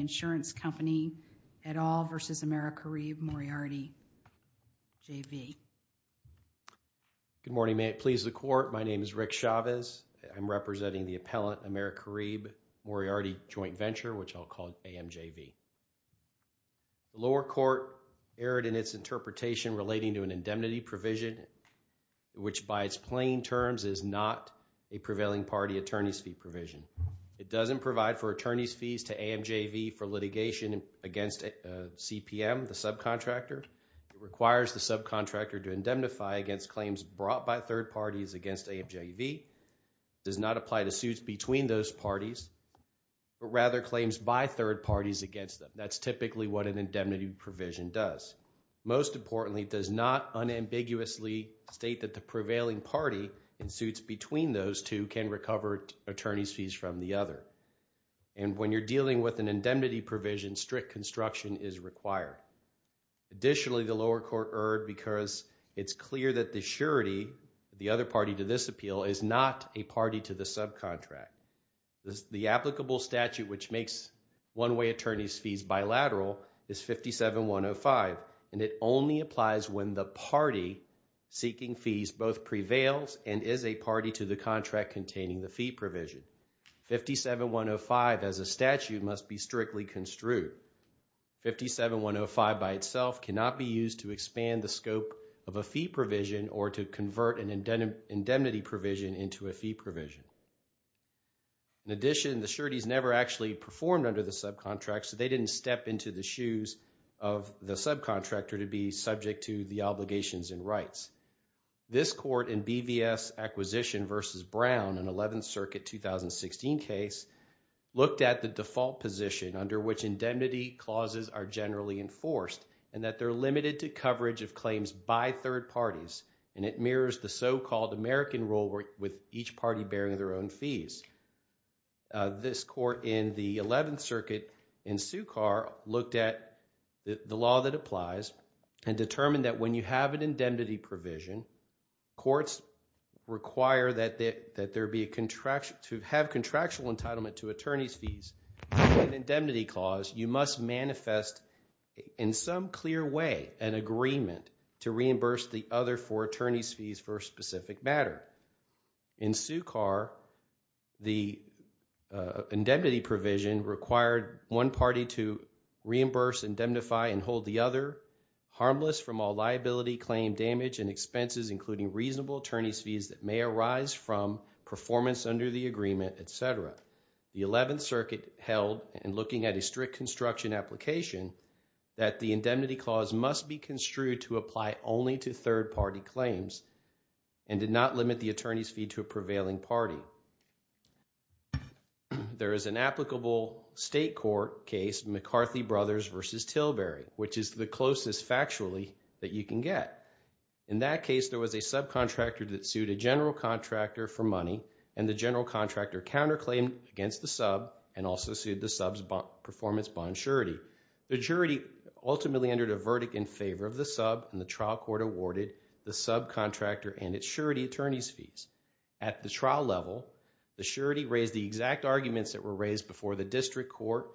Fidelity Insurance Company v. Americaribe-Moriarity JV Fidelity Insurance Company v. Americaribe-Moriarity JV Good morning. May it please the court. My name is Rick Chavez. I'm representing the appellant Americaribe-Moriarity Joint Venture, which I'll call AMJV. The lower court erred in its interpretation relating to an indemnity provision, which by its plain terms is not a prevailing party attorney's fee provision. It doesn't provide for attorney's fees to AMJV for litigation against CPM, the subcontractor. It requires the subcontractor to indemnify against claims brought by third parties against AMJV. It does not apply to suits between those parties, but rather claims by third parties against them. That's typically what an indemnity provision does. Most importantly, it does not unambiguously state that the prevailing party in suits between those two can recover attorney's fees from the other. And when you're dealing with an indemnity provision, strict construction is required. Additionally, the lower court erred because it's clear that the surety, the other party to this appeal, is not a party to the subcontract. The applicable statute which makes one-way attorney's fees bilateral is 57-105, and it only applies when the party seeking fees both prevails and is a party to the contract containing the fee provision. 57-105 as a statute must be strictly construed. 57-105 by itself cannot be used to expand the scope of a fee provision or to convert an indemnity provision into a fee provision. In addition, the sureties never actually performed under the subcontracts, so they didn't step into the shoes of the subcontractor to be subject to the obligations and rights. This court in BVS Acquisition v. Brown, an 11th Circuit 2016 case, looked at the default position under which indemnity clauses are generally enforced and that they're limited to coverage of claims by third parties. And it mirrors the so-called American rule with each party bearing their own fees. This court in the 11th Circuit in Sukar looked at the law that applies and determined that when you have an indemnity provision, courts require that there be a contractual – to have contractual entitlement to attorney's fees. Under an indemnity clause, you must manifest in some clear way an agreement to reimburse the other four attorney's fees for a specific matter. In Sukar, the indemnity provision required one party to reimburse, indemnify, and hold the other harmless from all liability, claim damage, and expenses including reasonable attorney's fees that may arise from performance under the agreement, etc. The 11th Circuit held, in looking at a strict construction application, that the indemnity clause must be construed to apply only to third-party claims and did not limit the attorney's fee to a prevailing party. There is an applicable state court case, McCarthy Brothers v. Tilbury, which is the closest factually that you can get. In that case, there was a subcontractor that sued a general contractor for money, and the general contractor counterclaimed against the sub and also sued the sub's performance bond surety. The surety ultimately entered a verdict in favor of the sub, and the trial court awarded the subcontractor and its surety attorney's fees. At the trial level, the surety raised the exact arguments that were raised before the district court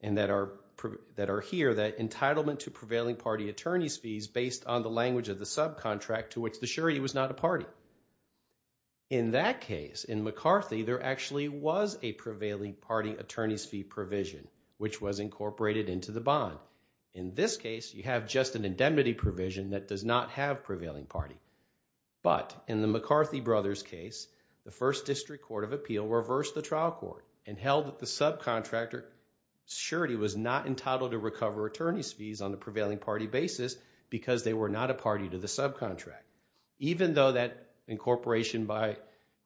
and that are here, that entitlement to prevailing party attorney's fees based on the language of the subcontract to which the surety was not a party. In that case, in McCarthy, there actually was a prevailing party attorney's fee provision, which was incorporated into the bond. In this case, you have just an indemnity provision that does not have prevailing party. But in the McCarthy Brothers case, the first district court of appeal reversed the trial court and held that the subcontractor surety was not entitled to recover attorney's fees on a prevailing party basis because they were not a party to the subcontract. Even though that incorporation by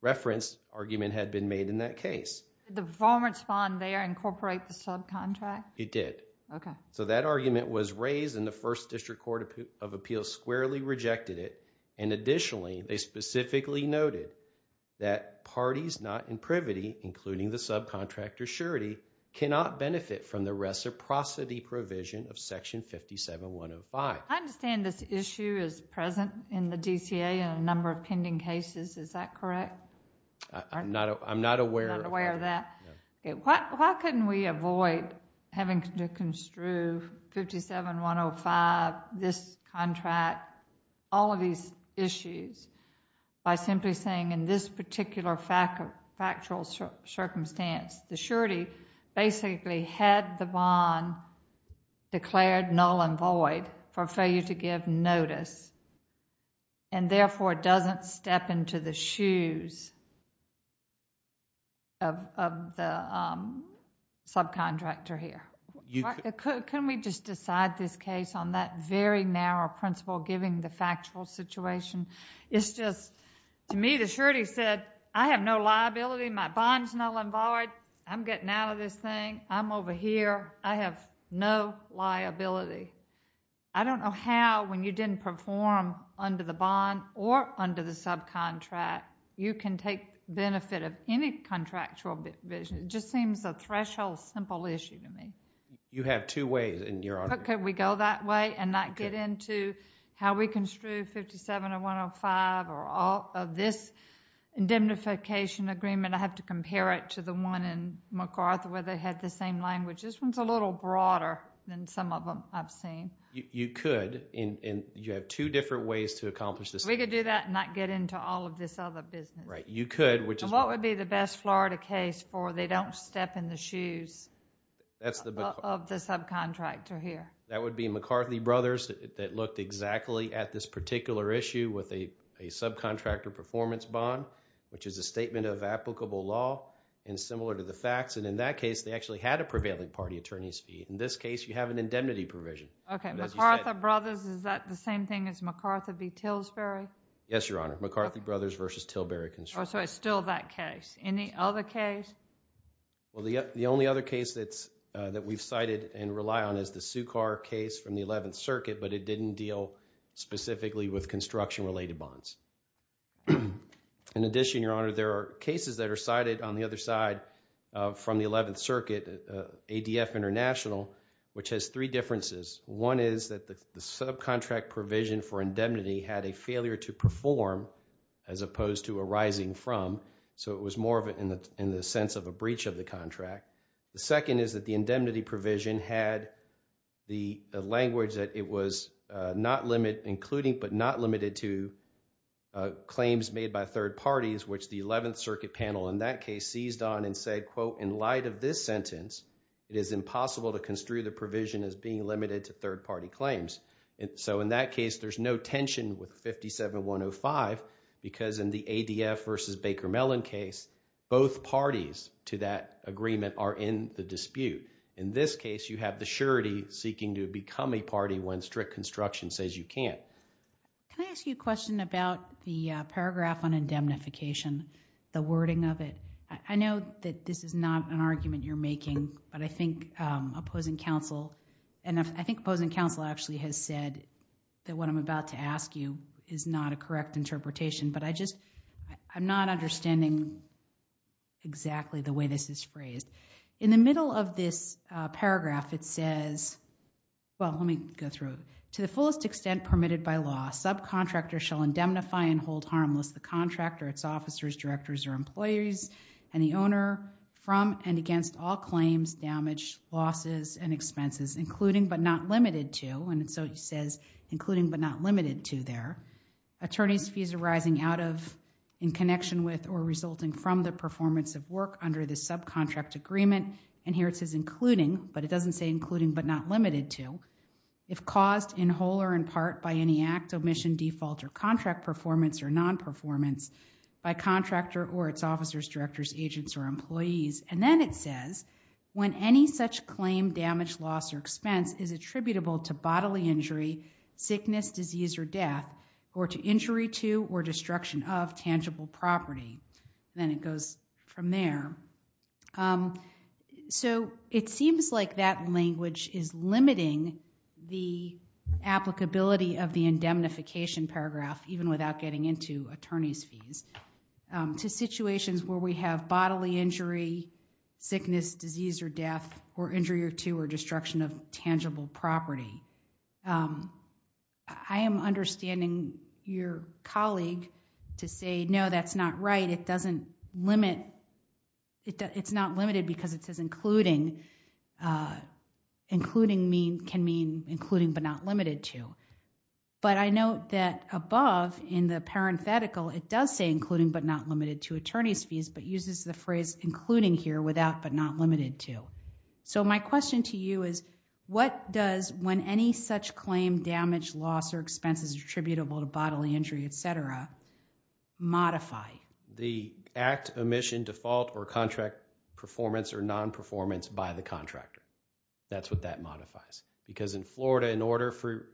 reference argument had been made in that case. The performance bond there incorporate the subcontract? It did. Okay. So that argument was raised in the first district court of appeal squarely rejected it. And additionally, they specifically noted that parties not in privity, including the subcontractor surety, cannot benefit from the reciprocity provision of section 57-105. I understand this issue is present in the DCA in a number of pending cases. Is that correct? I'm not aware of that. Why couldn't we avoid having to construe 57-105, this contract, all of these issues by simply saying in this particular factual circumstance, the surety basically had the bond declared null and void for failure to give notice and therefore doesn't step into the shoes of the subcontractor here. Can we just decide this case on that very narrow principle giving the factual situation? To me, the surety said, I have no liability. My bond's null and void. I'm getting out of this thing. I'm over here. I have no liability. I don't know how, when you didn't perform under the bond or under the subcontract, you can take benefit of any contractual provision. It just seems a threshold, simple issue to me. You have two ways in your argument. Could we go that way and not get into how we construe 57-105 or all of this indemnification agreement? I have to compare it to the one in McArthur where they had the same language. This one's a little broader than some of them I've seen. You could, and you have two different ways to accomplish this. We could do that and not get into all of this other business. Right. You could, which is what? What would be the best Florida case for they don't step in the shoes of the subcontractor here? That would be McCarthy Brothers that looked exactly at this particular issue with a subcontractor performance bond, which is a statement of applicable law and similar to the facts. And in that case, they actually had a prevailing party attorney's fee. In this case, you have an indemnity provision. Okay. McArthur Brothers, is that the same thing as McArthur v. Tilbury? Yes, Your Honor. McCarthy Brothers versus Tilbury construction. Oh, so it's still that case. Any other case? Well, the only other case that we've cited and rely on is the Sukar case from the 11th Circuit, but it didn't deal specifically with construction-related bonds. In addition, Your Honor, there are cases that are cited on the other side from the 11th Circuit, ADF International, which has three differences. One is that the subcontract provision for indemnity had a failure to perform as opposed to arising from, so it was more of it in the sense of a breach of the contract. The second is that the indemnity provision had the language that it was not limit including but not limited to claims made by third parties, which the 11th Circuit panel in that case seized on and said, quote, in light of this sentence, it is impossible to construe the provision as being limited to third-party claims. So in that case, there's no tension with 57-105 because in the ADF v. Baker Mellon case, both parties to that agreement are in the dispute. In this case, you have the surety seeking to become a party when strict construction says you can't. Can I ask you a question about the paragraph on indemnification, the wording of it? I know that this is not an argument you're making, but I think opposing counsel actually has said that what I'm about to ask you is not a correct interpretation, but I'm not understanding exactly the way this is phrased. In the middle of this paragraph, it says, well, let me go through it. To the fullest extent permitted by law, subcontractors shall indemnify and hold harmless the contractor, its officers, directors, or employees, and the owner from and against all claims, damage, losses, and expenses, including but not limited to, and so it says including but not limited to there, attorneys' fees arising out of, in connection with, or resulting from the performance of work under the subcontract agreement. And here it says including, but it doesn't say including but not limited to. If caused in whole or in part by any act, omission, default, or contract performance, or non-performance by contractor or its officers, directors, agents, or employees, and then it says when any such claim, damage, loss, or expense is attributable to bodily injury, sickness, disease, or death, or to injury to or destruction of tangible property. Then it goes from there. So it seems like that language is limiting the applicability of the indemnification paragraph, even without getting into attorneys' fees, to situations where we have bodily injury, sickness, disease, or death, or injury to or destruction of tangible property. I am understanding your colleague to say, no, that's not right. It doesn't limit. It's not limited because it says including. Including can mean including but not limited to. But I note that above, in the parenthetical, it does say including but not limited to attorneys' fees, but uses the phrase including here without but not limited to. So my question to you is, what does when any such claim, damage, loss, or expense is attributable to bodily injury, et cetera, modify? The act, omission, default, or contract performance or non-performance by the contractor. That's what that modifies. Because in Florida, in order for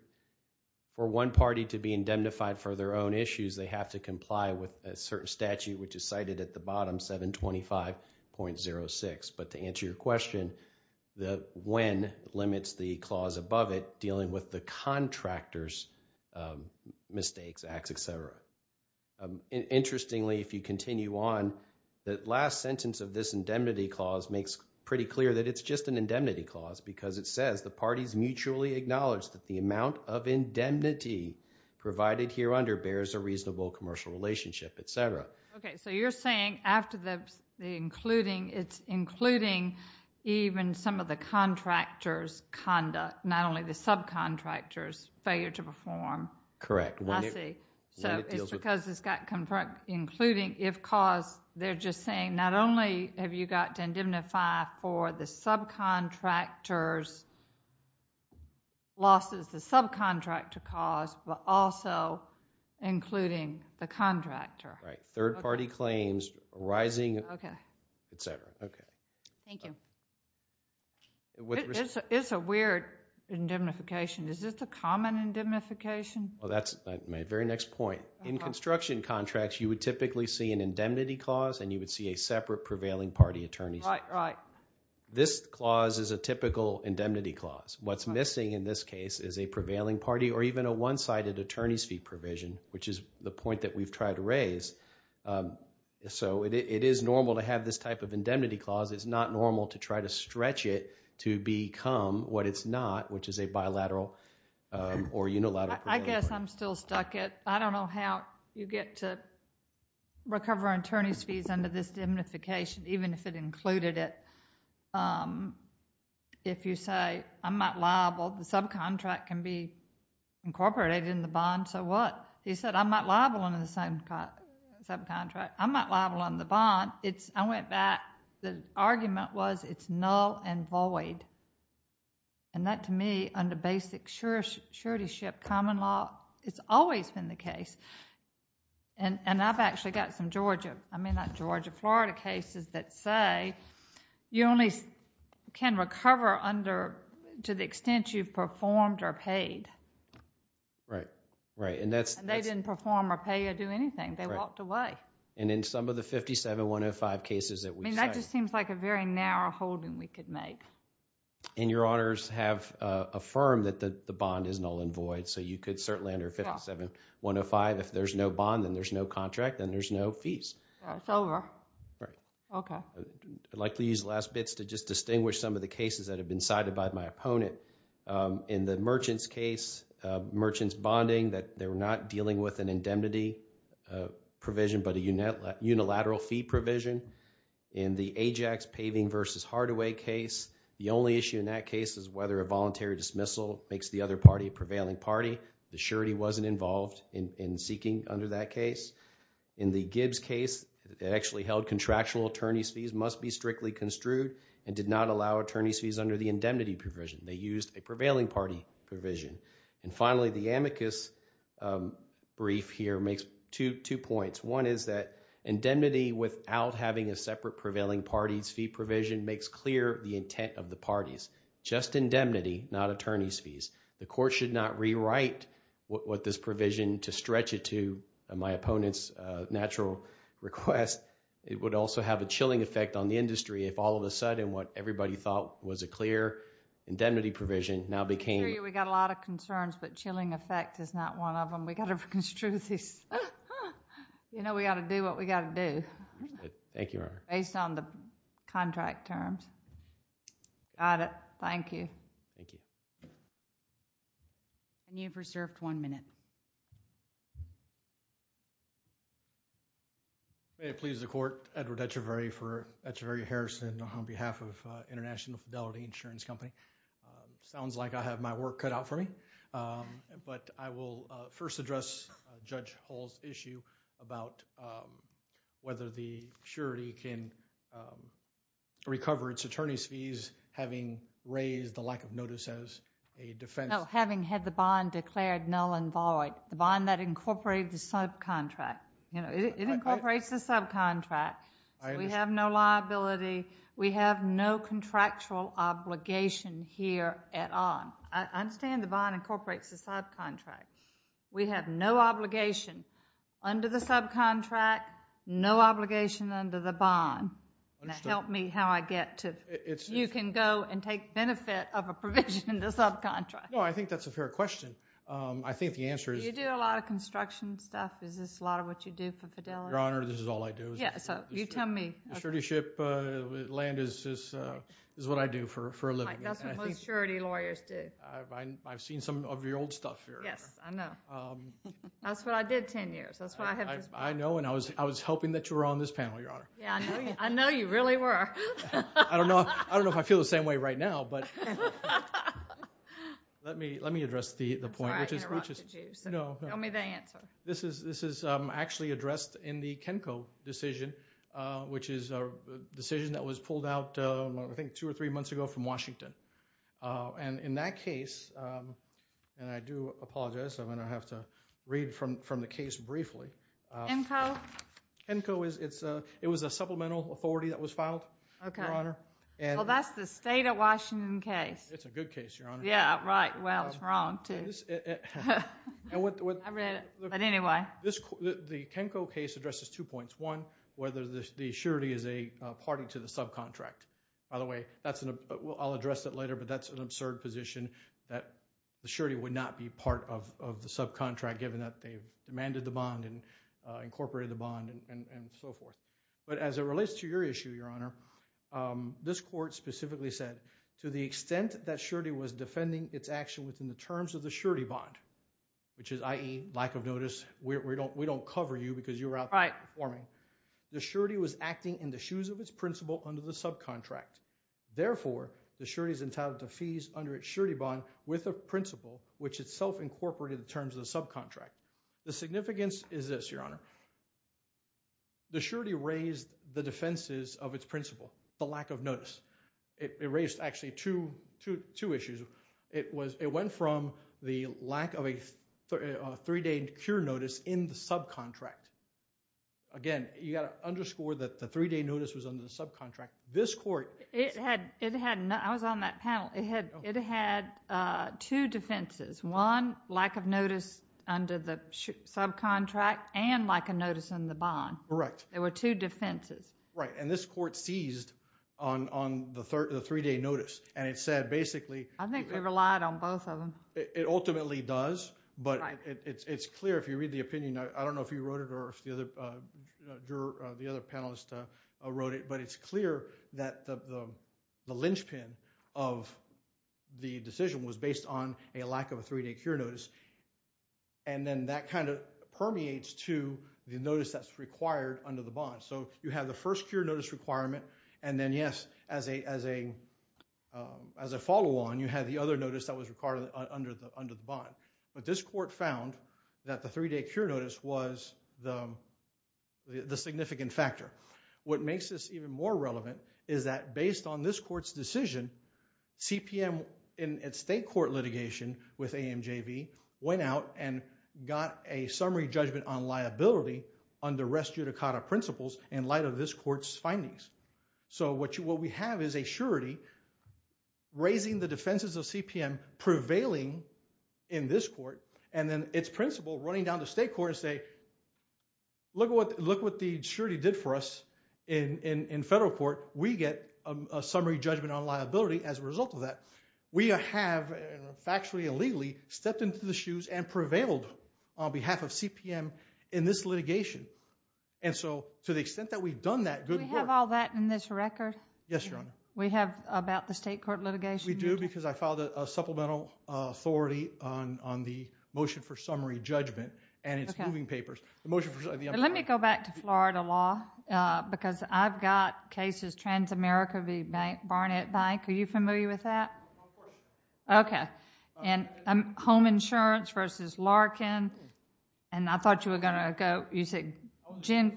one party to be indemnified for their own issues, they have to comply with a certain statute, which is cited at the bottom, 725.06. But to answer your question, the when limits the clause above it dealing with the contractor's mistakes, acts, et cetera. Interestingly, if you continue on, the last sentence of this indemnity clause makes pretty clear that it's just an indemnity clause because it says the parties mutually acknowledge that the amount of indemnity provided here under bears a reasonable commercial relationship, et cetera. Okay, so you're saying after the including, it's including even some of the contractor's conduct, not only the subcontractor's failure to perform. Correct. I see. So it's because it's got including if clause. They're just saying not only have you got to indemnify for the subcontractor's losses, the subcontractor cause, but also including the contractor. Right. Third party claims arising, et cetera. Okay. Thank you. It's a weird indemnification. Is this a common indemnification? Well, that's my very next point. In construction contracts, you would typically see an indemnity clause and you would see a separate prevailing party attorney. Right, right. This clause is a typical indemnity clause. What's missing in this case is a prevailing party or even a one-sided attorney's fee provision, which is the point that we've tried to raise. So it is normal to have this type of indemnity clause. It's not normal to try to stretch it to become what it's not, which is a bilateral or unilateral. I guess I'm still stuck at I don't know how you get to recover an attorney's fees under this indemnification, even if it included it. If you say I'm not liable, the subcontract can be incorporated in the bond, so what? He said I'm not liable under the same subcontract. I'm not liable under the bond. I went back. The argument was it's null and void. That, to me, under basic suretyship common law, it's always been the case. I've actually got some Georgia, I mean not Georgia, Florida cases that say you only can recover to the extent you've performed or paid. Right, right. They didn't perform or pay or do anything. They walked away. Right. In some of the 57-105 cases that we cited... That just seems like a very narrow holding we could make. Your honors have affirmed that the bond is null and void, so you could certainly under 57-105, if there's no bond and there's no contract, then there's no fees. It's over. Right. Okay. I'd like to use the last bits to just distinguish some of the cases that have been cited by my opponent. In the merchant's case, merchant's bonding, they were not dealing with an indemnity provision but a unilateral fee provision. In the Ajax paving versus Hardaway case, the only issue in that case is whether a voluntary dismissal makes the other party a prevailing party. The surety wasn't involved in seeking under that case. In the Gibbs case, it actually held contractual attorney's fees must be strictly construed and did not allow attorney's fees under the indemnity provision. They used a prevailing party provision. And finally, the amicus brief here makes two points. One is that indemnity without having a separate prevailing party's fee provision makes clear the intent of the parties. Just indemnity, not attorney's fees. The court should not rewrite what this provision to stretch it to my opponent's natural request. It would also have a chilling effect on the industry if all of a sudden what everybody thought was a clear indemnity provision now became... We've got a lot of concerns but chilling effect is not one of them. We've got to construe this. You know we've got to do what we've got to do. Thank you, Your Honor. Based on the contract terms. Got it. Thank you. Thank you. And you've reserved one minute. May it please the court. Edward Etcheverry for Etcheverry Harrison on behalf of International Fidelity Insurance Company. Sounds like I have my work cut out for me. But I will first address Judge Hall's issue about whether the surety can recover its attorney's fees having raised the lack of notice as a defense... All right. The bond that incorporated the subcontract. It incorporates the subcontract. We have no liability. We have no contractual obligation here at all. I understand the bond incorporates the subcontract. We have no obligation under the subcontract, no obligation under the bond. Help me how I get to... You can go and take benefit of a provision in the subcontract. No, I think that's a fair question. I think the answer is... Do you do a lot of construction stuff? Is this a lot of what you do for Fidelity? Your Honor, this is all I do. Yeah, so you tell me. Surety ship land is what I do for a living. That's what most surety lawyers do. I've seen some of your old stuff here. Yes, I know. That's what I did ten years. That's why I have this bond. I know, and I was hoping that you were on this panel, Your Honor. Yeah, I know you really were. I don't know if I feel the same way right now, but... Let me address the point, which is... Tell me the answer. This is actually addressed in the Kenco decision, which is a decision that was pulled out, I think, two or three months ago from Washington. In that case, and I do apologize. I'm going to have to read from the case briefly. Kenco? Kenco, it was a supplemental authority that was filed, Your Honor. Well, that's the state of Washington case. It's a good case, Your Honor. Yeah, right. Well, it's wrong, too. I read it, but anyway. The Kenco case addresses two points. One, whether the surety is a party to the subcontract. By the way, I'll address that later, but that's an absurd position that the surety would not be part of the subcontract, given that they've demanded the bond and incorporated the bond and so forth. But as it relates to your issue, Your Honor, this court specifically said, to the extent that surety was defending its action within the terms of the surety bond, which is, i.e., lack of notice, we don't cover you because you're out there performing. The surety was acting in the shoes of its principal under the subcontract. Therefore, the surety is entitled to fees under its surety bond with a principal, which itself incorporated the terms of the subcontract. The significance is this, Your Honor. The surety raised the defenses of its principal, the lack of notice. It raised, actually, two issues. It went from the lack of a three-day cure notice in the subcontract. Again, you've got to underscore that the three-day notice was under the subcontract. I was on that panel. It had two defenses. One, lack of notice under the subcontract and lack of notice in the bond. Correct. There were two defenses. Right, and this court seized on the three-day notice, and it said, basically— I think they relied on both of them. It ultimately does, but it's clear if you read the opinion. I don't know if you wrote it or if the other panelist wrote it, but it's clear that the linchpin of the decision was based on a lack of a three-day cure notice, and then that kind of permeates to the notice that's required under the bond. So you have the first cure notice requirement, and then, yes, as a follow-on, you have the other notice that was required under the bond. But this court found that the three-day cure notice was the significant factor. What makes this even more relevant is that based on this court's decision, CPM in its state court litigation with AMJV went out and got a summary judgment on liability under res judicata principles in light of this court's findings. So what we have is a surety raising the defenses of CPM prevailing in this court, and then its principle running down to state court to say, look what the surety did for us in federal court. We get a summary judgment on liability as a result of that. We have factually and legally stepped into the shoes and prevailed on behalf of CPM in this litigation. And so to the extent that we've done that good work— Do we have all that in this record? Yes, Your Honor. We have about the state court litigation? We do, because I filed a supplemental authority on the motion for summary judgment and its moving papers. Let me go back to Florida law, because I've got cases, Transamerica v. Barnett Bank. Are you familiar with that? Of course. Okay. And home insurance versus Larkin, and I thought you were going to go— I was an associate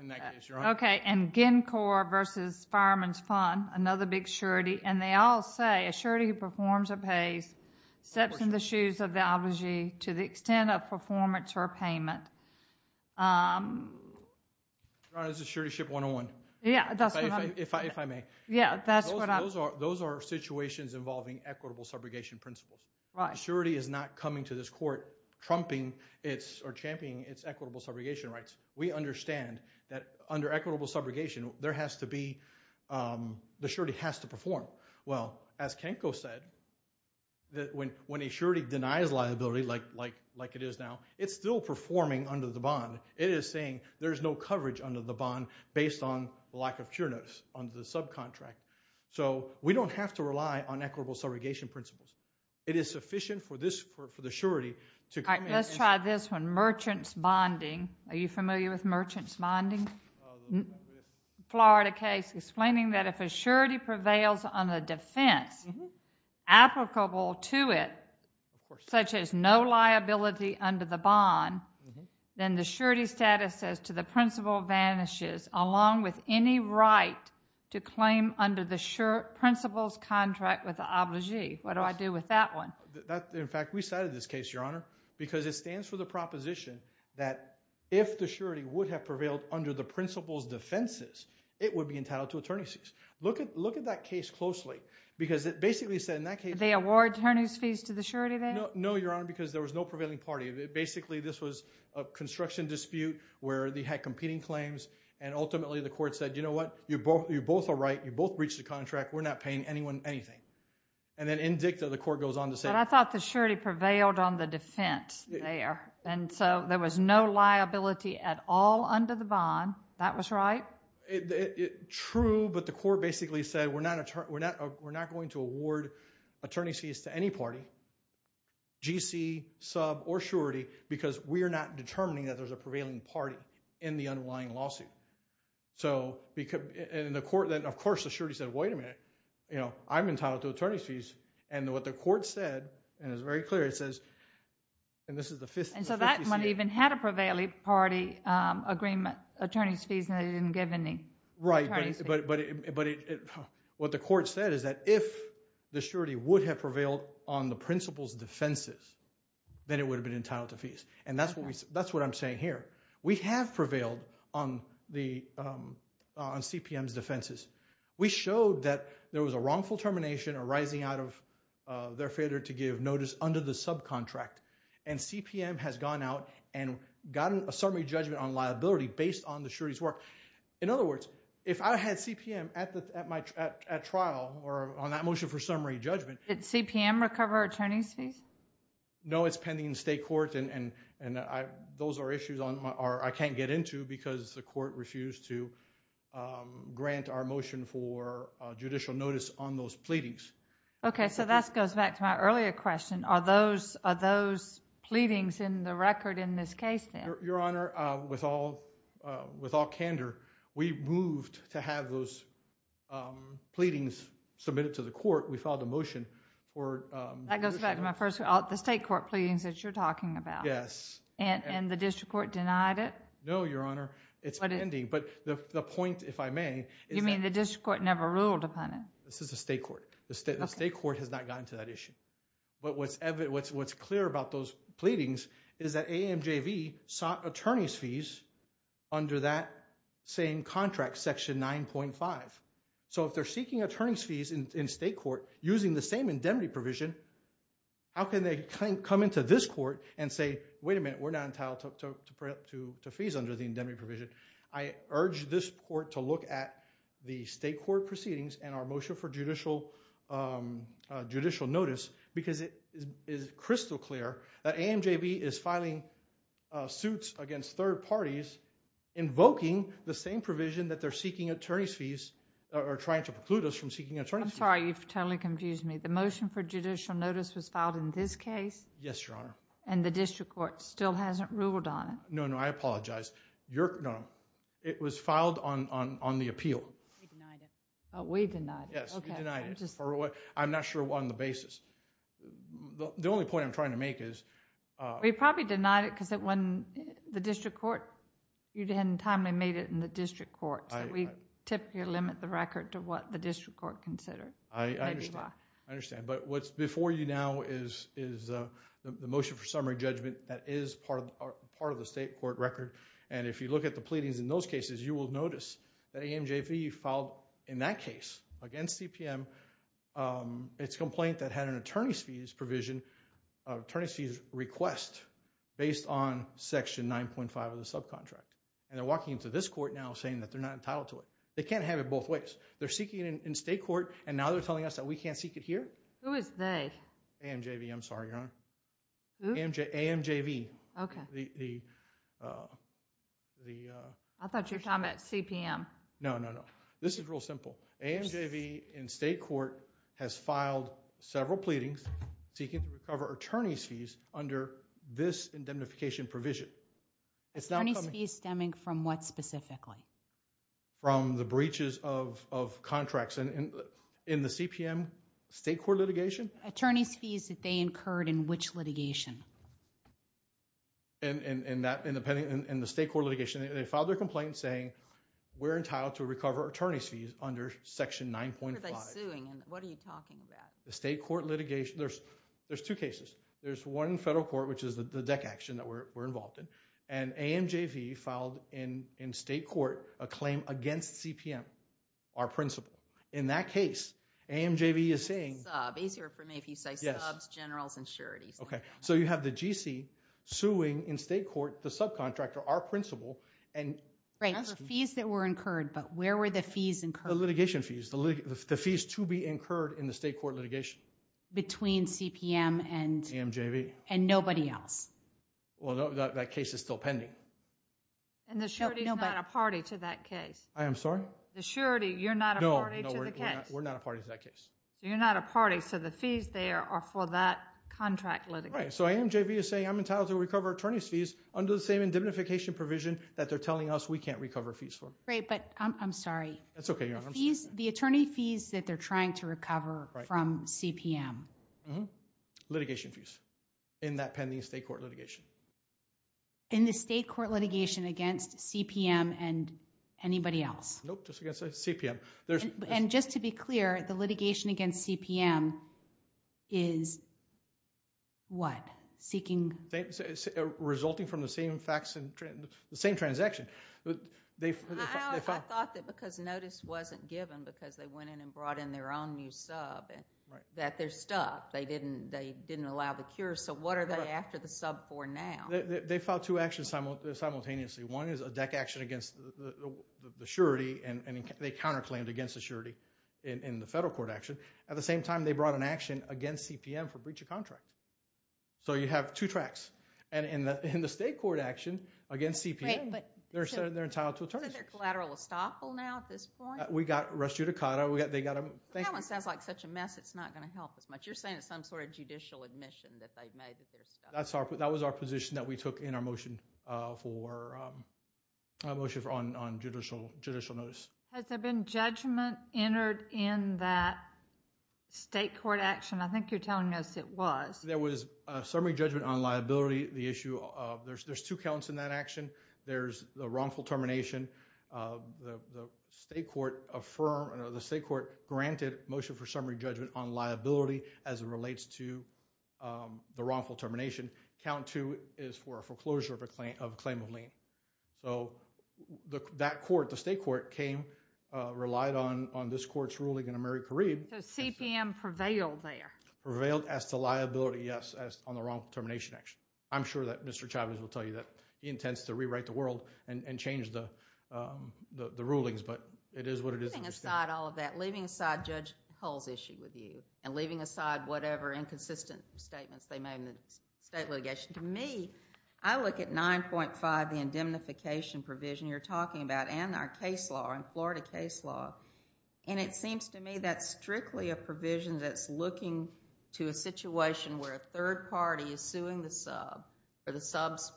in that case, Your Honor. Okay, and GenCorp versus Fireman's Fund, another big surety, and they all say a surety who performs or pays steps in the shoes of the obligee to the extent of performance or payment. Your Honor, this is Surety Ship 101. Yeah, that's what I'm— If I may. Yeah, that's what I'm— Those are situations involving equitable subrogation principles. Right. A surety is not coming to this court trumping or championing its equitable subrogation rights. We understand that under equitable subrogation, there has to be—the surety has to perform. Well, as Kenko said, when a surety denies liability like it is now, it's still performing under the bond. It is saying there's no coverage under the bond based on the lack of cure notice under the subcontract. So we don't have to rely on equitable subrogation principles. It is sufficient for this—for the surety to— All right, let's try this one. Merchants bonding. Are you familiar with merchants bonding? Florida case explaining that if a surety prevails on a defense applicable to it, such as no liability under the bond, then the surety status says to the principal vanishes along with any right to claim under the principles contract with the obligee. What do I do with that one? In fact, we cited this case, Your Honor, because it stands for the proposition that if the surety would have prevailed under the principal's defenses, it would be entitled to attorney's fees. Look at that case closely because it basically said in that case— Did they award attorney's fees to the surety then? No, Your Honor, because there was no prevailing party. Basically, this was a construction dispute where they had competing claims, and ultimately the court said, you know what, you both are right. You both breached the contract. We're not paying anyone anything. And then in dicta, the court goes on to say— But I thought the surety prevailed on the defense there, and so there was no liability at all under the bond. That was right? True, but the court basically said we're not going to award attorney's fees to any party, GC, sub, or surety, because we are not determining that there's a prevailing party in the underlying lawsuit. And the court then, of course, the surety said, wait a minute. I'm entitled to attorney's fees. And what the court said, and it was very clear, it says— And so that one even had a prevailing party agreement, attorney's fees, and they didn't give any attorney's fees. Right, but what the court said is that if the surety would have prevailed on the principal's defenses, then it would have been entitled to fees. And that's what I'm saying here. We have prevailed on CPM's defenses. We showed that there was a wrongful termination arising out of their failure to give notice under the subcontract, and CPM has gone out and gotten a summary judgment on liability based on the surety's work. In other words, if I had CPM at trial or on that motion for summary judgment— Did CPM recover attorney's fees? No, it's pending in state court, and those are issues I can't get into because the court refused to grant our motion for judicial notice on those pleadings. Okay, so that goes back to my earlier question. Are those pleadings in the record in this case then? Your Honor, with all candor, we moved to have those pleadings submitted to the court. We filed a motion for— That goes back to my first—the state court pleadings that you're talking about. Yes. And the district court denied it? No, Your Honor, it's pending. But the point, if I may— You mean the district court never ruled upon it? This is the state court. The state court has not gotten to that issue. But what's clear about those pleadings is that AMJV sought attorney's fees under that same contract, Section 9.5. So if they're seeking attorney's fees in state court using the same indemnity provision, how can they come into this court and say, wait a minute, we're not entitled to fees under the indemnity provision? I urge this court to look at the state court proceedings and our motion for judicial notice because it is crystal clear that AMJV is filing suits against third parties invoking the same provision that they're seeking attorney's fees—or trying to preclude us from seeking attorney's fees. I'm sorry, you've totally confused me. The motion for judicial notice was filed in this case? Yes, Your Honor. And the district court still hasn't ruled on it? No, no, I apologize. Your—no, no. It was filed on the appeal. We denied it. Oh, we denied it. Yes, we denied it. I'm not sure on the basis. The only point I'm trying to make is— We probably denied it because it wasn't the district court. You hadn't timely made it in the district court. We typically limit the record to what the district court considered. I understand, I understand. But what's before you now is the motion for summary judgment that is part of the state court record. And if you look at the pleadings in those cases, you will notice that AMJV filed in that case against CPM its complaint that had an attorney's fees provision—attorney's fees request based on Section 9.5 of the subcontract. And they're walking into this court now saying that they're not entitled to it. They can't have it both ways. They're seeking it in state court and now they're telling us that we can't seek it here? Who is they? AMJV, I'm sorry, Your Honor. Who? AMJV. Okay. The—the— I thought you were talking about CPM. No, no, no. This is real simple. AMJV in state court has filed several pleadings seeking to recover attorney's fees under this indemnification provision. Attorney's fees stemming from what specifically? From the breaches of—of contracts in the CPM state court litigation. Attorney's fees that they incurred in which litigation? In—in—in that—in the state court litigation. They filed their complaint saying we're entitled to recover attorney's fees under Section 9.5. What are they suing and what are you talking about? The state court litigation. There's—there's two cases. There's one in federal court which is the DEC action that we're—we're involved in. And AMJV filed in—in state court a claim against CPM, our principal. In that case, AMJV is saying— Sub. Easier for me if you say subs, generals, insurities. Okay. So you have the GC suing in state court the subcontractor, our principal, and asking— Right. The fees that were incurred but where were the fees incurred? The litigation fees. The litigation—the fees to be incurred in the state court litigation. Between CPM and— AMJV. And nobody else. Well, no, that case is still pending. And the surety's not a party to that case. I am sorry? The surety, you're not a party to the case. No, no, we're—we're not a party to that case. You're not a party, so the fees there are for that contract litigation. Right. So AMJV is saying I'm entitled to recover attorney's fees under the same indemnification provision that they're telling us we can't recover fees for. Great, but I'm—I'm sorry. That's okay, Your Honor. The fees—the attorney fees that they're trying to recover from CPM. Mm-hmm. Litigation fees in that pending state court litigation. In the state court litigation against CPM and anybody else. Nope, just against CPM. And just to be clear, the litigation against CPM is what? Seeking— Resulting from the same fax—the same transaction. I thought that because notice wasn't given because they went in and brought in their own new sub, that they're stuck. They didn't—they didn't allow the cure, so what are they after the sub for now? They filed two actions simultaneously. One is a deck action against the surety and they counterclaimed against the surety in the federal court action. At the same time, they brought an action against CPM for breach of contract. So you have two tracks. And in the state court action against CPM, they're entitled to attorney's fees. So they're collateral estoppel now at this point? We got res judicata. They got a— That one sounds like such a mess it's not going to help as much. You're saying it's some sort of judicial admission that they've made that they're stuck. That was our position that we took in our motion for—our motion on judicial notice. Has there been judgment entered in that state court action? I think you're telling us it was. There was a summary judgment on liability. The issue of—there's two counts in that action. There's the wrongful termination. The state court affirmed—the state court granted motion for summary judgment on liability as it relates to the wrongful termination. Count two is for a foreclosure of a claim of lien. So that court, the state court came, relied on this court's ruling in AmeriCarib. So CPM prevailed there? Prevailed as to liability, yes, on the wrongful termination action. I'm sure that Mr. Chavez will tell you that he intends to rewrite the world and change the rulings, but it is what it is. Leaving aside all of that, leaving aside Judge Cole's issue with you and leaving aside whatever inconsistent statements they made in the state litigation, to me, I look at 9.5, the indemnification provision you're talking about, and our case law and Florida case law, and it seems to me that's strictly a provision that's looking to a situation where a third party is suing the sub for the sub's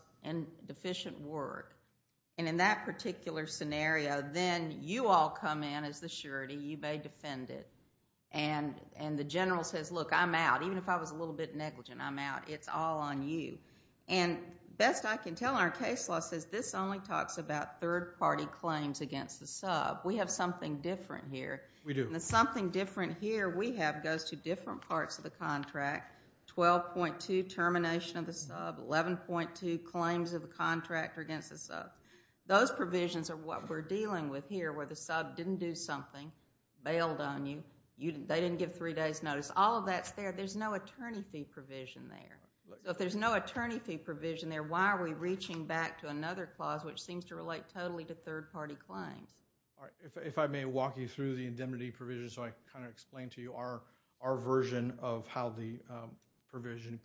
deficient word. And in that particular scenario, then you all come in as the surety. You may defend it. And the general says, look, I'm out. Even if I was a little bit negligent, I'm out. It's all on you. And best I can tell, our case law says this only talks about third party claims against the sub. We have something different here. We do. And the something different here we have goes to different parts of the contract, Those provisions are what we're dealing with here where the sub didn't do something, bailed on you, they didn't give three days' notice. All of that's there. There's no attorney fee provision there. If there's no attorney fee provision there, why are we reaching back to another clause which seems to relate totally to third party claims? If I may walk you through the indemnity provisions so I can kind of explain to you our version of how the provision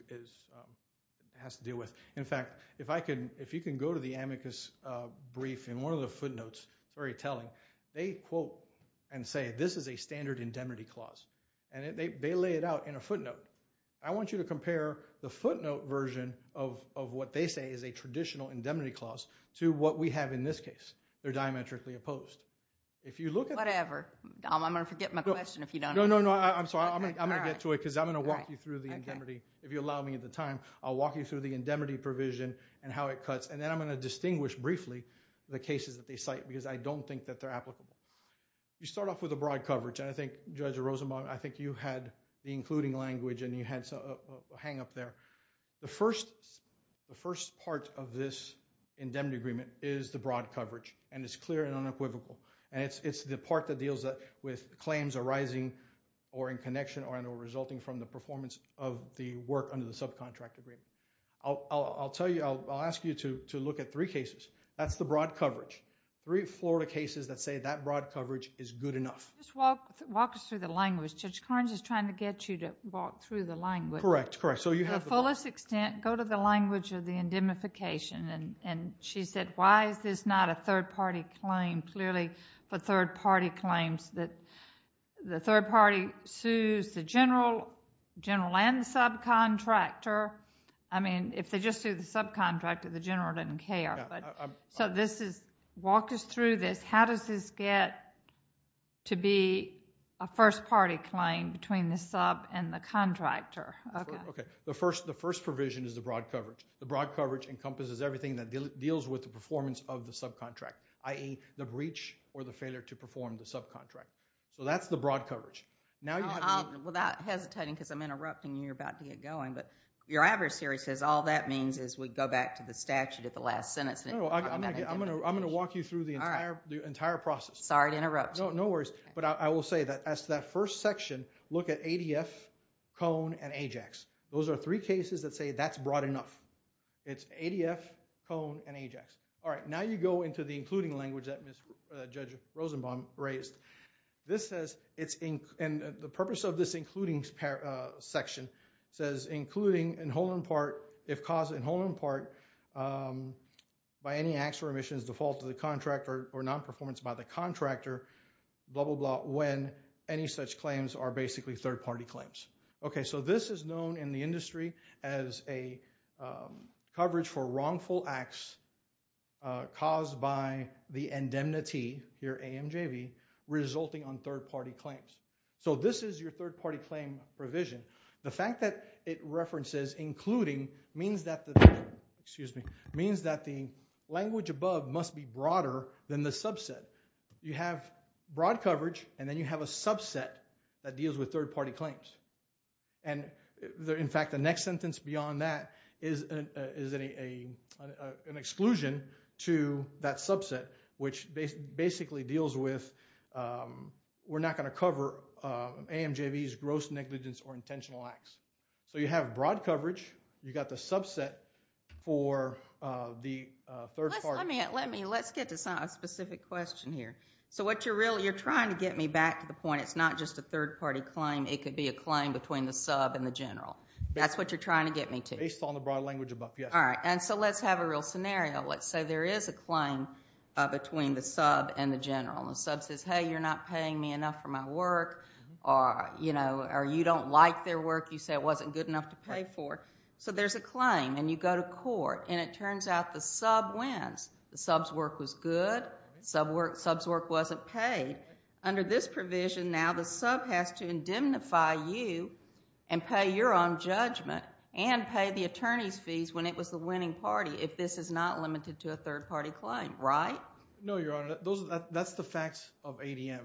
has to deal with. In fact, if you can go to the amicus brief in one of the footnotes, very telling, they quote and say this is a standard indemnity clause. And they lay it out in a footnote. I want you to compare the footnote version of what they say is a traditional indemnity clause to what we have in this case. They're diametrically opposed. If you look at. Whatever. I'm going to forget my question if you don't. No, no, no. I'm going to get to it because I'm going to walk you through the indemnity. If you allow me the time, I'll walk you through the indemnity provision and how it cuts. And then I'm going to distinguish briefly the cases that they cite because I don't think that they're applicable. You start off with a broad coverage. And I think Judge Rosenbaum, I think you had the including language and you had a hang up there. The first part of this indemnity agreement is the broad coverage. And it's clear and unequivocal. And it's the part that deals with claims arising or in connection or resulting from the performance of the work under the subcontract agreement. I'll tell you. I'll ask you to look at three cases. That's the broad coverage. Three Florida cases that say that broad coverage is good enough. Just walk us through the language. Judge Carnes is trying to get you to walk through the language. Correct, correct. To the fullest extent, go to the language of the indemnification. And she said, why is this not a third party claim? And clearly the third party claims that the third party sues the general and the subcontractor. I mean, if they just sued the subcontractor, the general didn't care. So walk us through this. How does this get to be a first party claim between the sub and the contractor? The first provision is the broad coverage. The broad coverage encompasses everything that deals with the performance of the subcontract, i.e., the breach or the failure to perform the subcontract. So that's the broad coverage. Without hesitating because I'm interrupting and you're about to get going, but your adversary says all that means is we go back to the statute at the last sentence. No, no. I'm going to walk you through the entire process. Sorry to interrupt you. No worries. But I will say that as to that first section, look at ADF, Cone, and AJAX. It's ADF, Cone, and AJAX. All right. Now you go into the including language that Judge Rosenbaum raised. This says, and the purpose of this including section says, including if caused in whole or in part by any acts or omissions defaulted to the contractor or non-performance by the contractor, blah, blah, blah, when any such claims are basically third party claims. Okay. So this is known in the industry as a coverage for wrongful acts caused by the indemnity, your AMJV, resulting on third party claims. So this is your third party claim provision. The fact that it references including means that the language above must be broader than the subset. You have broad coverage and then you have a subset that deals with third party claims. In fact, the next sentence beyond that is an exclusion to that subset, which basically deals with we're not going to cover AMJVs, gross negligence, or intentional acts. So you have broad coverage. You've got the subset for the third party. Let's get to a specific question here. You're trying to get me back to the point it's not just a third party claim. It could be a claim between the sub and the general. That's what you're trying to get me to. Based on the broad language above, yes. All right. So let's have a real scenario. Let's say there is a claim between the sub and the general. The sub says, hey, you're not paying me enough for my work, or you don't like their work. You say it wasn't good enough to pay for. So there's a claim, and you go to court, and it turns out the sub wins. The sub's work was good. The sub's work wasn't paid. Under this provision now, the sub has to indemnify you and pay your own judgment and pay the attorney's fees when it was the winning party, if this is not limited to a third party claim, right? No, Your Honor. That's the facts of ADM.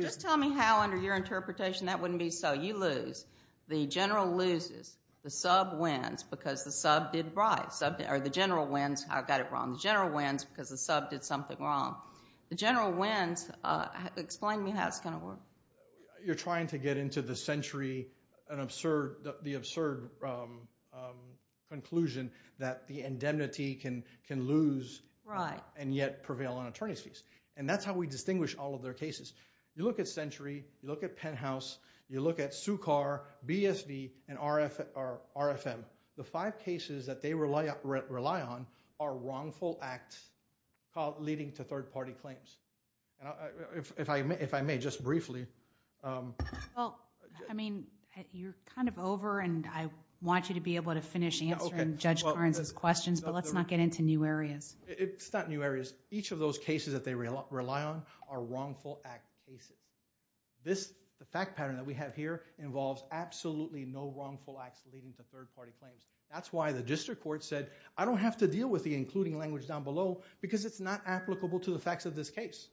Just tell me how, under your interpretation, that wouldn't be so. You lose. The general loses. The sub wins because the sub did right. Or the general wins. I've got it wrong. The general wins because the sub did something wrong. The general wins. Explain to me how it's going to work. You're trying to get into the century, the absurd conclusion that the indemnity can lose and yet prevail on attorney's fees. And that's how we distinguish all of their cases. You look at Century. You look at Penthouse. You look at SUCCAR, BSD, and RFM. The five cases that they rely on are wrongful acts leading to third party claims. If I may, just briefly. Well, I mean, you're kind of over and I want you to be able to finish answering Judge Karnes' questions, but let's not get into new areas. It's not new areas. Each of those cases that they rely on are wrongful act cases. The fact pattern that we have here involves absolutely no wrongful acts leading to third party claims. That's why the district court said, I don't have to deal with the including language down below because it's not applicable to the facts of this case.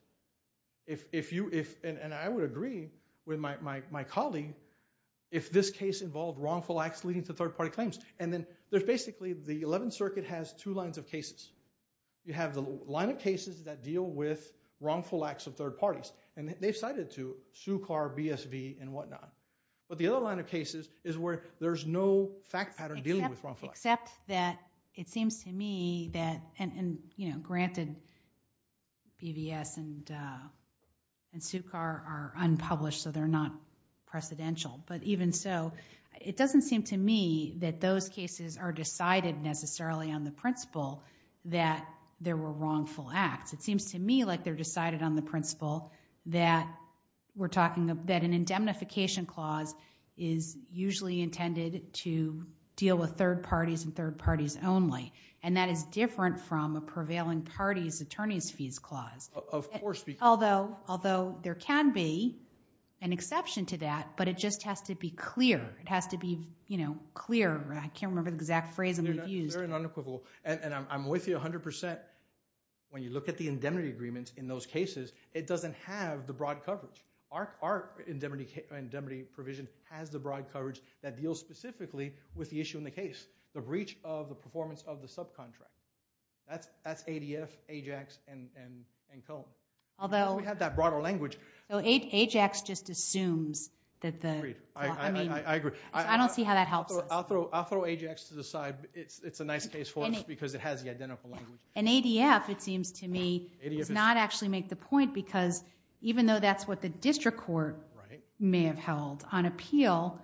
And I would agree with my colleague if this case involved wrongful acts leading to third party claims. And then there's basically the 11th Circuit has two lines of cases. You have the line of cases that deal with wrongful acts of third parties. And they've cited it to SUCCAR, BSD, and whatnot. But the other line of cases is where there's no fact pattern dealing with wrongful acts. Except that it seems to me that, and, you know, granted BVS and SUCCAR are unpublished so they're not precedential. But even so, it doesn't seem to me that those cases are decided necessarily on the principle that there were wrongful acts. It seems to me like they're decided on the principle that we're talking about an indemnification clause is usually intended to deal with third parties and third parties only. And that is different from a prevailing parties' attorneys' fees clause. Of course. Although there can be an exception to that. But it just has to be clear. It has to be, you know, clear. I can't remember the exact phrase I'm going to use. Very unequivocal. And I'm with you 100%. When you look at the indemnity agreements in those cases, it doesn't have the broad coverage. Our indemnity provision has the broad coverage that deals specifically with the issue in the case. The breach of the performance of the subcontract. That's ADF, AJAX, and Cone. We have that broader language. AJAX just assumes that the – I agree. I don't see how that helps us. I'll throw AJAX to the side. It's a nice case for us because it has the identical language. And ADF, it seems to me, does not actually make the point because even though that's what the district court may have held on appeal,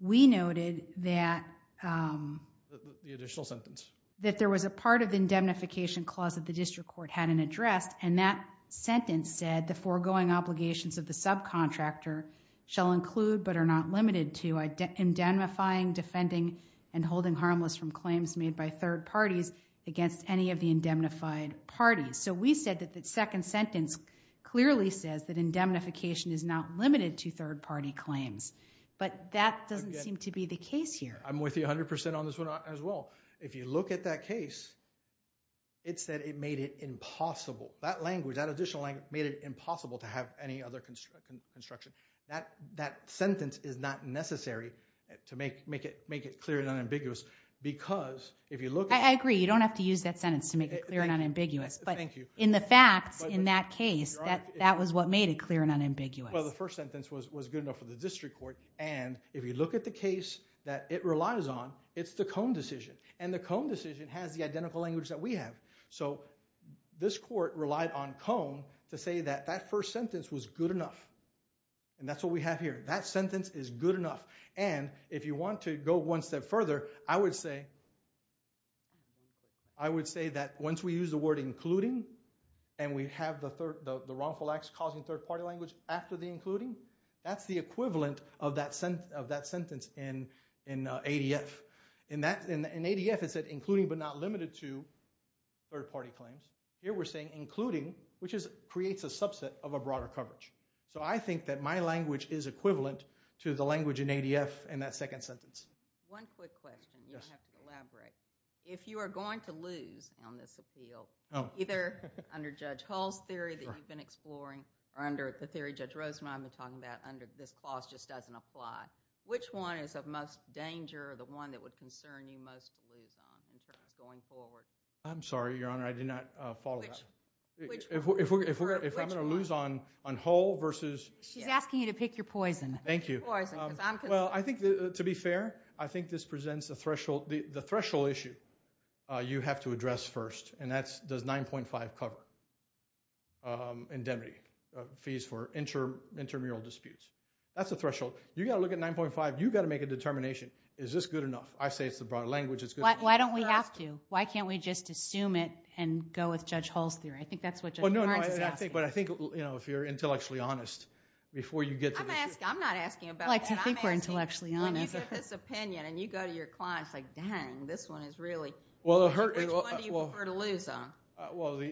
we noted that – The additional sentence. That there was a part of the indemnification clause that the district court hadn't addressed. And that sentence said the foregoing obligations of the subcontractor shall include but are not limited to indemnifying, defending, and holding harmless from claims made by third parties against any of the indemnified parties. So we said that the second sentence clearly says that indemnification is not limited to third party claims. But that doesn't seem to be the case here. I'm with you 100% on this one as well. If you look at that case, it said it made it impossible. That language, that additional language made it impossible to have any other construction. That sentence is not necessary to make it clear and unambiguous because if you look at – I agree. You don't have to use that sentence to make it clear and unambiguous. But in the facts in that case, that was what made it clear and unambiguous. Well, the first sentence was good enough for the district court. And if you look at the case that it relies on, it's the Cone decision. And the Cone decision has the identical language that we have. So this court relied on Cone to say that that first sentence was good enough. And that's what we have here. That sentence is good enough. And if you want to go one step further, I would say that once we use the word including and we have the wrongful acts causing third-party language after the including, that's the equivalent of that sentence in ADF. In ADF, it said including but not limited to third-party claims. Here we're saying including, which creates a subset of a broader coverage. So I think that my language is equivalent to the language in ADF in that second sentence. One quick question. Yes. I have to elaborate. If you are going to lose on this appeal, either under Judge Hall's theory that you've been exploring or under the theory Judge Rosenbaum was talking about under this clause just doesn't apply, which one is of most danger or the one that would concern you most to lose on in terms of going forward? I'm sorry, Your Honor. I did not follow that. If I'm going to lose on Hall versus... She's asking you to pick your poison. Thank you. Well, I think to be fair, I think this presents a threshold. The threshold issue you have to address first, and that's does 9.5 cover indemnity, fees for intramural disputes. That's a threshold. You've got to look at 9.5. You've got to make a determination. Is this good enough? I say it's the broad language. It's good enough. Why don't we have to? Why can't we just assume it and go with Judge Hall's theory? I think that's what Judge Barnes is asking. I think if you're intellectually honest before you get to the issue... I'm not asking about... I like to think we're intellectually honest. When you give this opinion and you go to your clients like, dang, this one is really... Well, the... Which one do you prefer to lose on?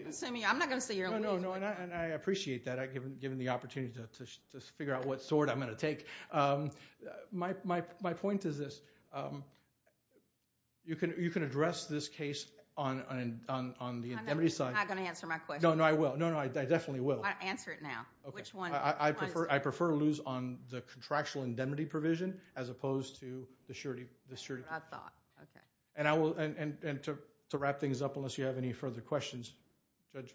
Assuming... I'm not going to say you're... No, no, and I appreciate that. Given the opportunity to figure out what sort I'm going to take. My point is this. You can address this case on the indemnity side. I'm not going to answer my question. No, no, I will. No, no, I definitely will. Answer it now. Which one... I prefer to lose on the contractual indemnity provision as opposed to the surety provision. I thought. Okay. To wrap things up unless you have any further questions. Judge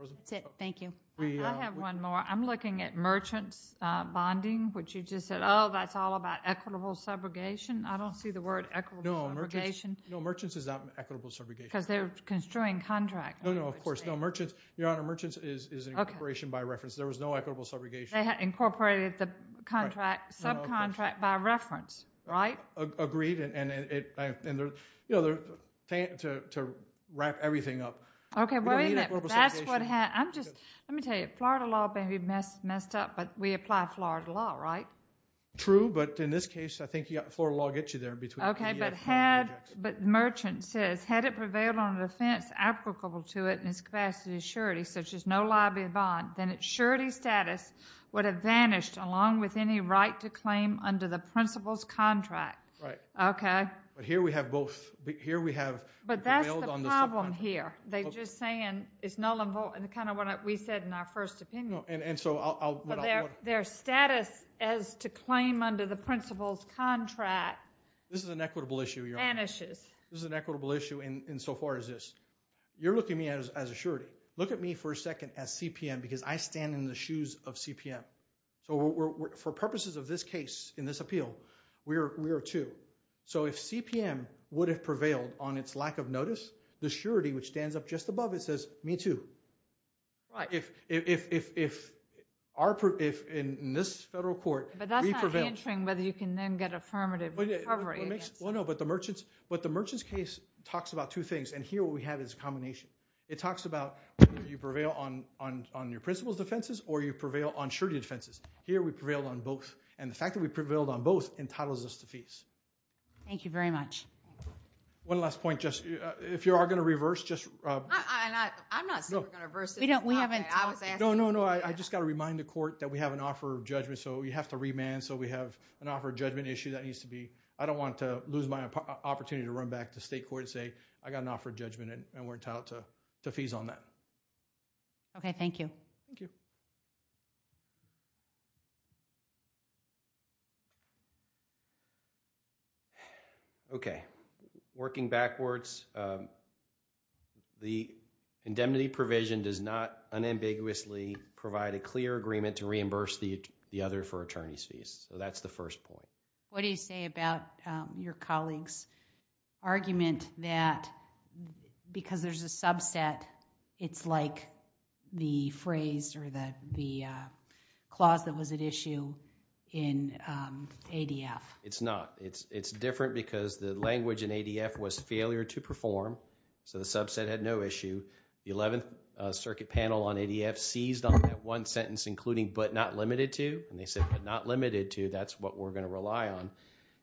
Rosen? That's it. Thank you. I have one more. I'm looking at merchant's bonding. You just said, oh, that's all about equitable subrogation. I don't see the word equitable subrogation. No, merchant's is not equitable subrogation. Because they're construing contracts. No, no, of course not. Merchant's is an incorporation by reference. There was no equitable subrogation. They had incorporated the subcontract by reference, right? Agreed. To wrap everything up. Okay, wait a minute. That's what... Let me tell you. Florida law may be messed up, but we apply Florida law, right? True, but in this case, I think Florida law will get you there. Okay, but merchant says, had it prevailed on an offense applicable to it in its capacity of surety, such as no liability bond, then its surety status would have vanished along with any right to claim under the principal's contract. Right. Okay. But here we have both. Here we have... But that's the problem here. They're just saying it's null and void. Kind of what we said in our first opinion. And so I'll... Their status as to claim under the principal's contract... This is an equitable issue, Your Honor.... vanishes. This is an equitable issue insofar as this. You're looking at me as a surety. Look at me for a second as CPM because I stand in the shoes of CPM. So for purposes of this case, in this appeal, we are two. So if CPM would have prevailed on its lack of notice, the surety, which stands up just above it, says, me too. Right. If in this federal court... But that's not answering whether you can then get affirmative recovery. Well, no. But the merchant's case talks about two things. And here what we have is a combination. It talks about whether you prevail on your principal's defenses or you prevail on surety defenses. Here we prevail on both. And the fact that we prevailed on both entitles us to fees. Thank you very much. One last point. If you are going to reverse... I'm not saying we're going to reverse this. We haven't talked... No, no, no. I just got to remind the court that we have an offer of judgment. So we have to remand. So we have an offer of judgment issue that needs to be... I don't want to lose my opportunity to run back to state court and say, I got an offer of judgment and we're entitled to fees on that. Okay. Thank you. Thank you. Okay. Working backwards, the indemnity provision does not unambiguously provide a clear agreement to reimburse the other for attorney's fees. So that's the first point. What do you say about your colleague's argument that because there's a subset, it's like the phrase or the clause that was at issue in ADF? It's not. It's different because the language in ADF was failure to perform. So the subset had no issue. The 11th Circuit Panel on ADF seized on that one sentence including, but not limited to. And they said, but not limited to. That's what we're going to rely on.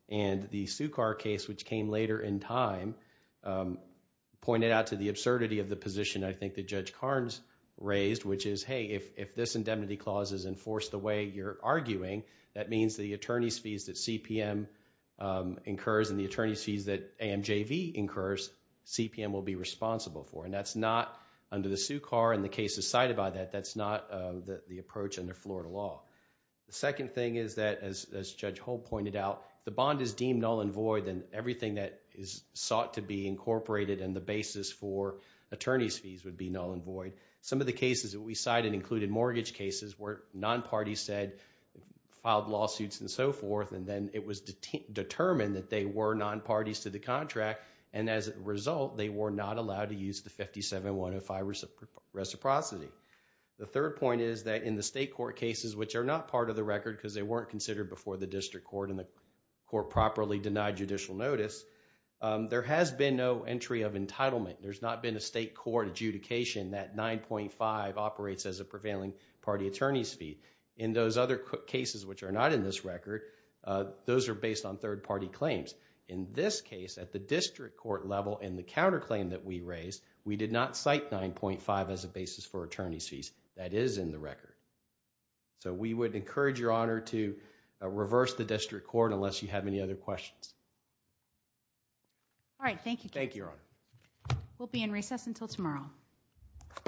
And the Sukar case, which came later in time, pointed out to the absurdity of the position I think that Judge Karnes raised, which is, hey, if this indemnity clause is enforced the way you're arguing, that means the attorney's fees that CPM incurs and the attorney's fees that AMJV incurs, CPM will be responsible for. And that's not, under the Sukar and the cases cited by that, that's not the approach under Florida law. The second thing is that, as Judge Holt pointed out, the bond is deemed null and void, and everything that is sought to be incorporated in the basis for attorney's fees would be null and void. Some of the cases that we cited included mortgage cases where non-parties said, filed lawsuits and so forth. And then it was determined that they were non-parties to the contract. And as a result, they were not allowed to use the 57-105 reciprocity. The third point is that in the state court cases, which are not part of the record because they weren't considered before the district court and the court properly denied judicial notice, there has been no entry of entitlement. There's not been a state court adjudication that 9.5 operates as a prevailing party attorney's fee. In those other cases which are not in this record, those are based on third-party claims. In this case, at the district court level, in the counterclaim that we raised, we did not cite 9.5 as a basis for attorney's fees. That is in the record. So we would encourage Your Honor to reverse the district court unless you have any other questions. All right, thank you. Thank you, Your Honor. We'll be in recess until tomorrow.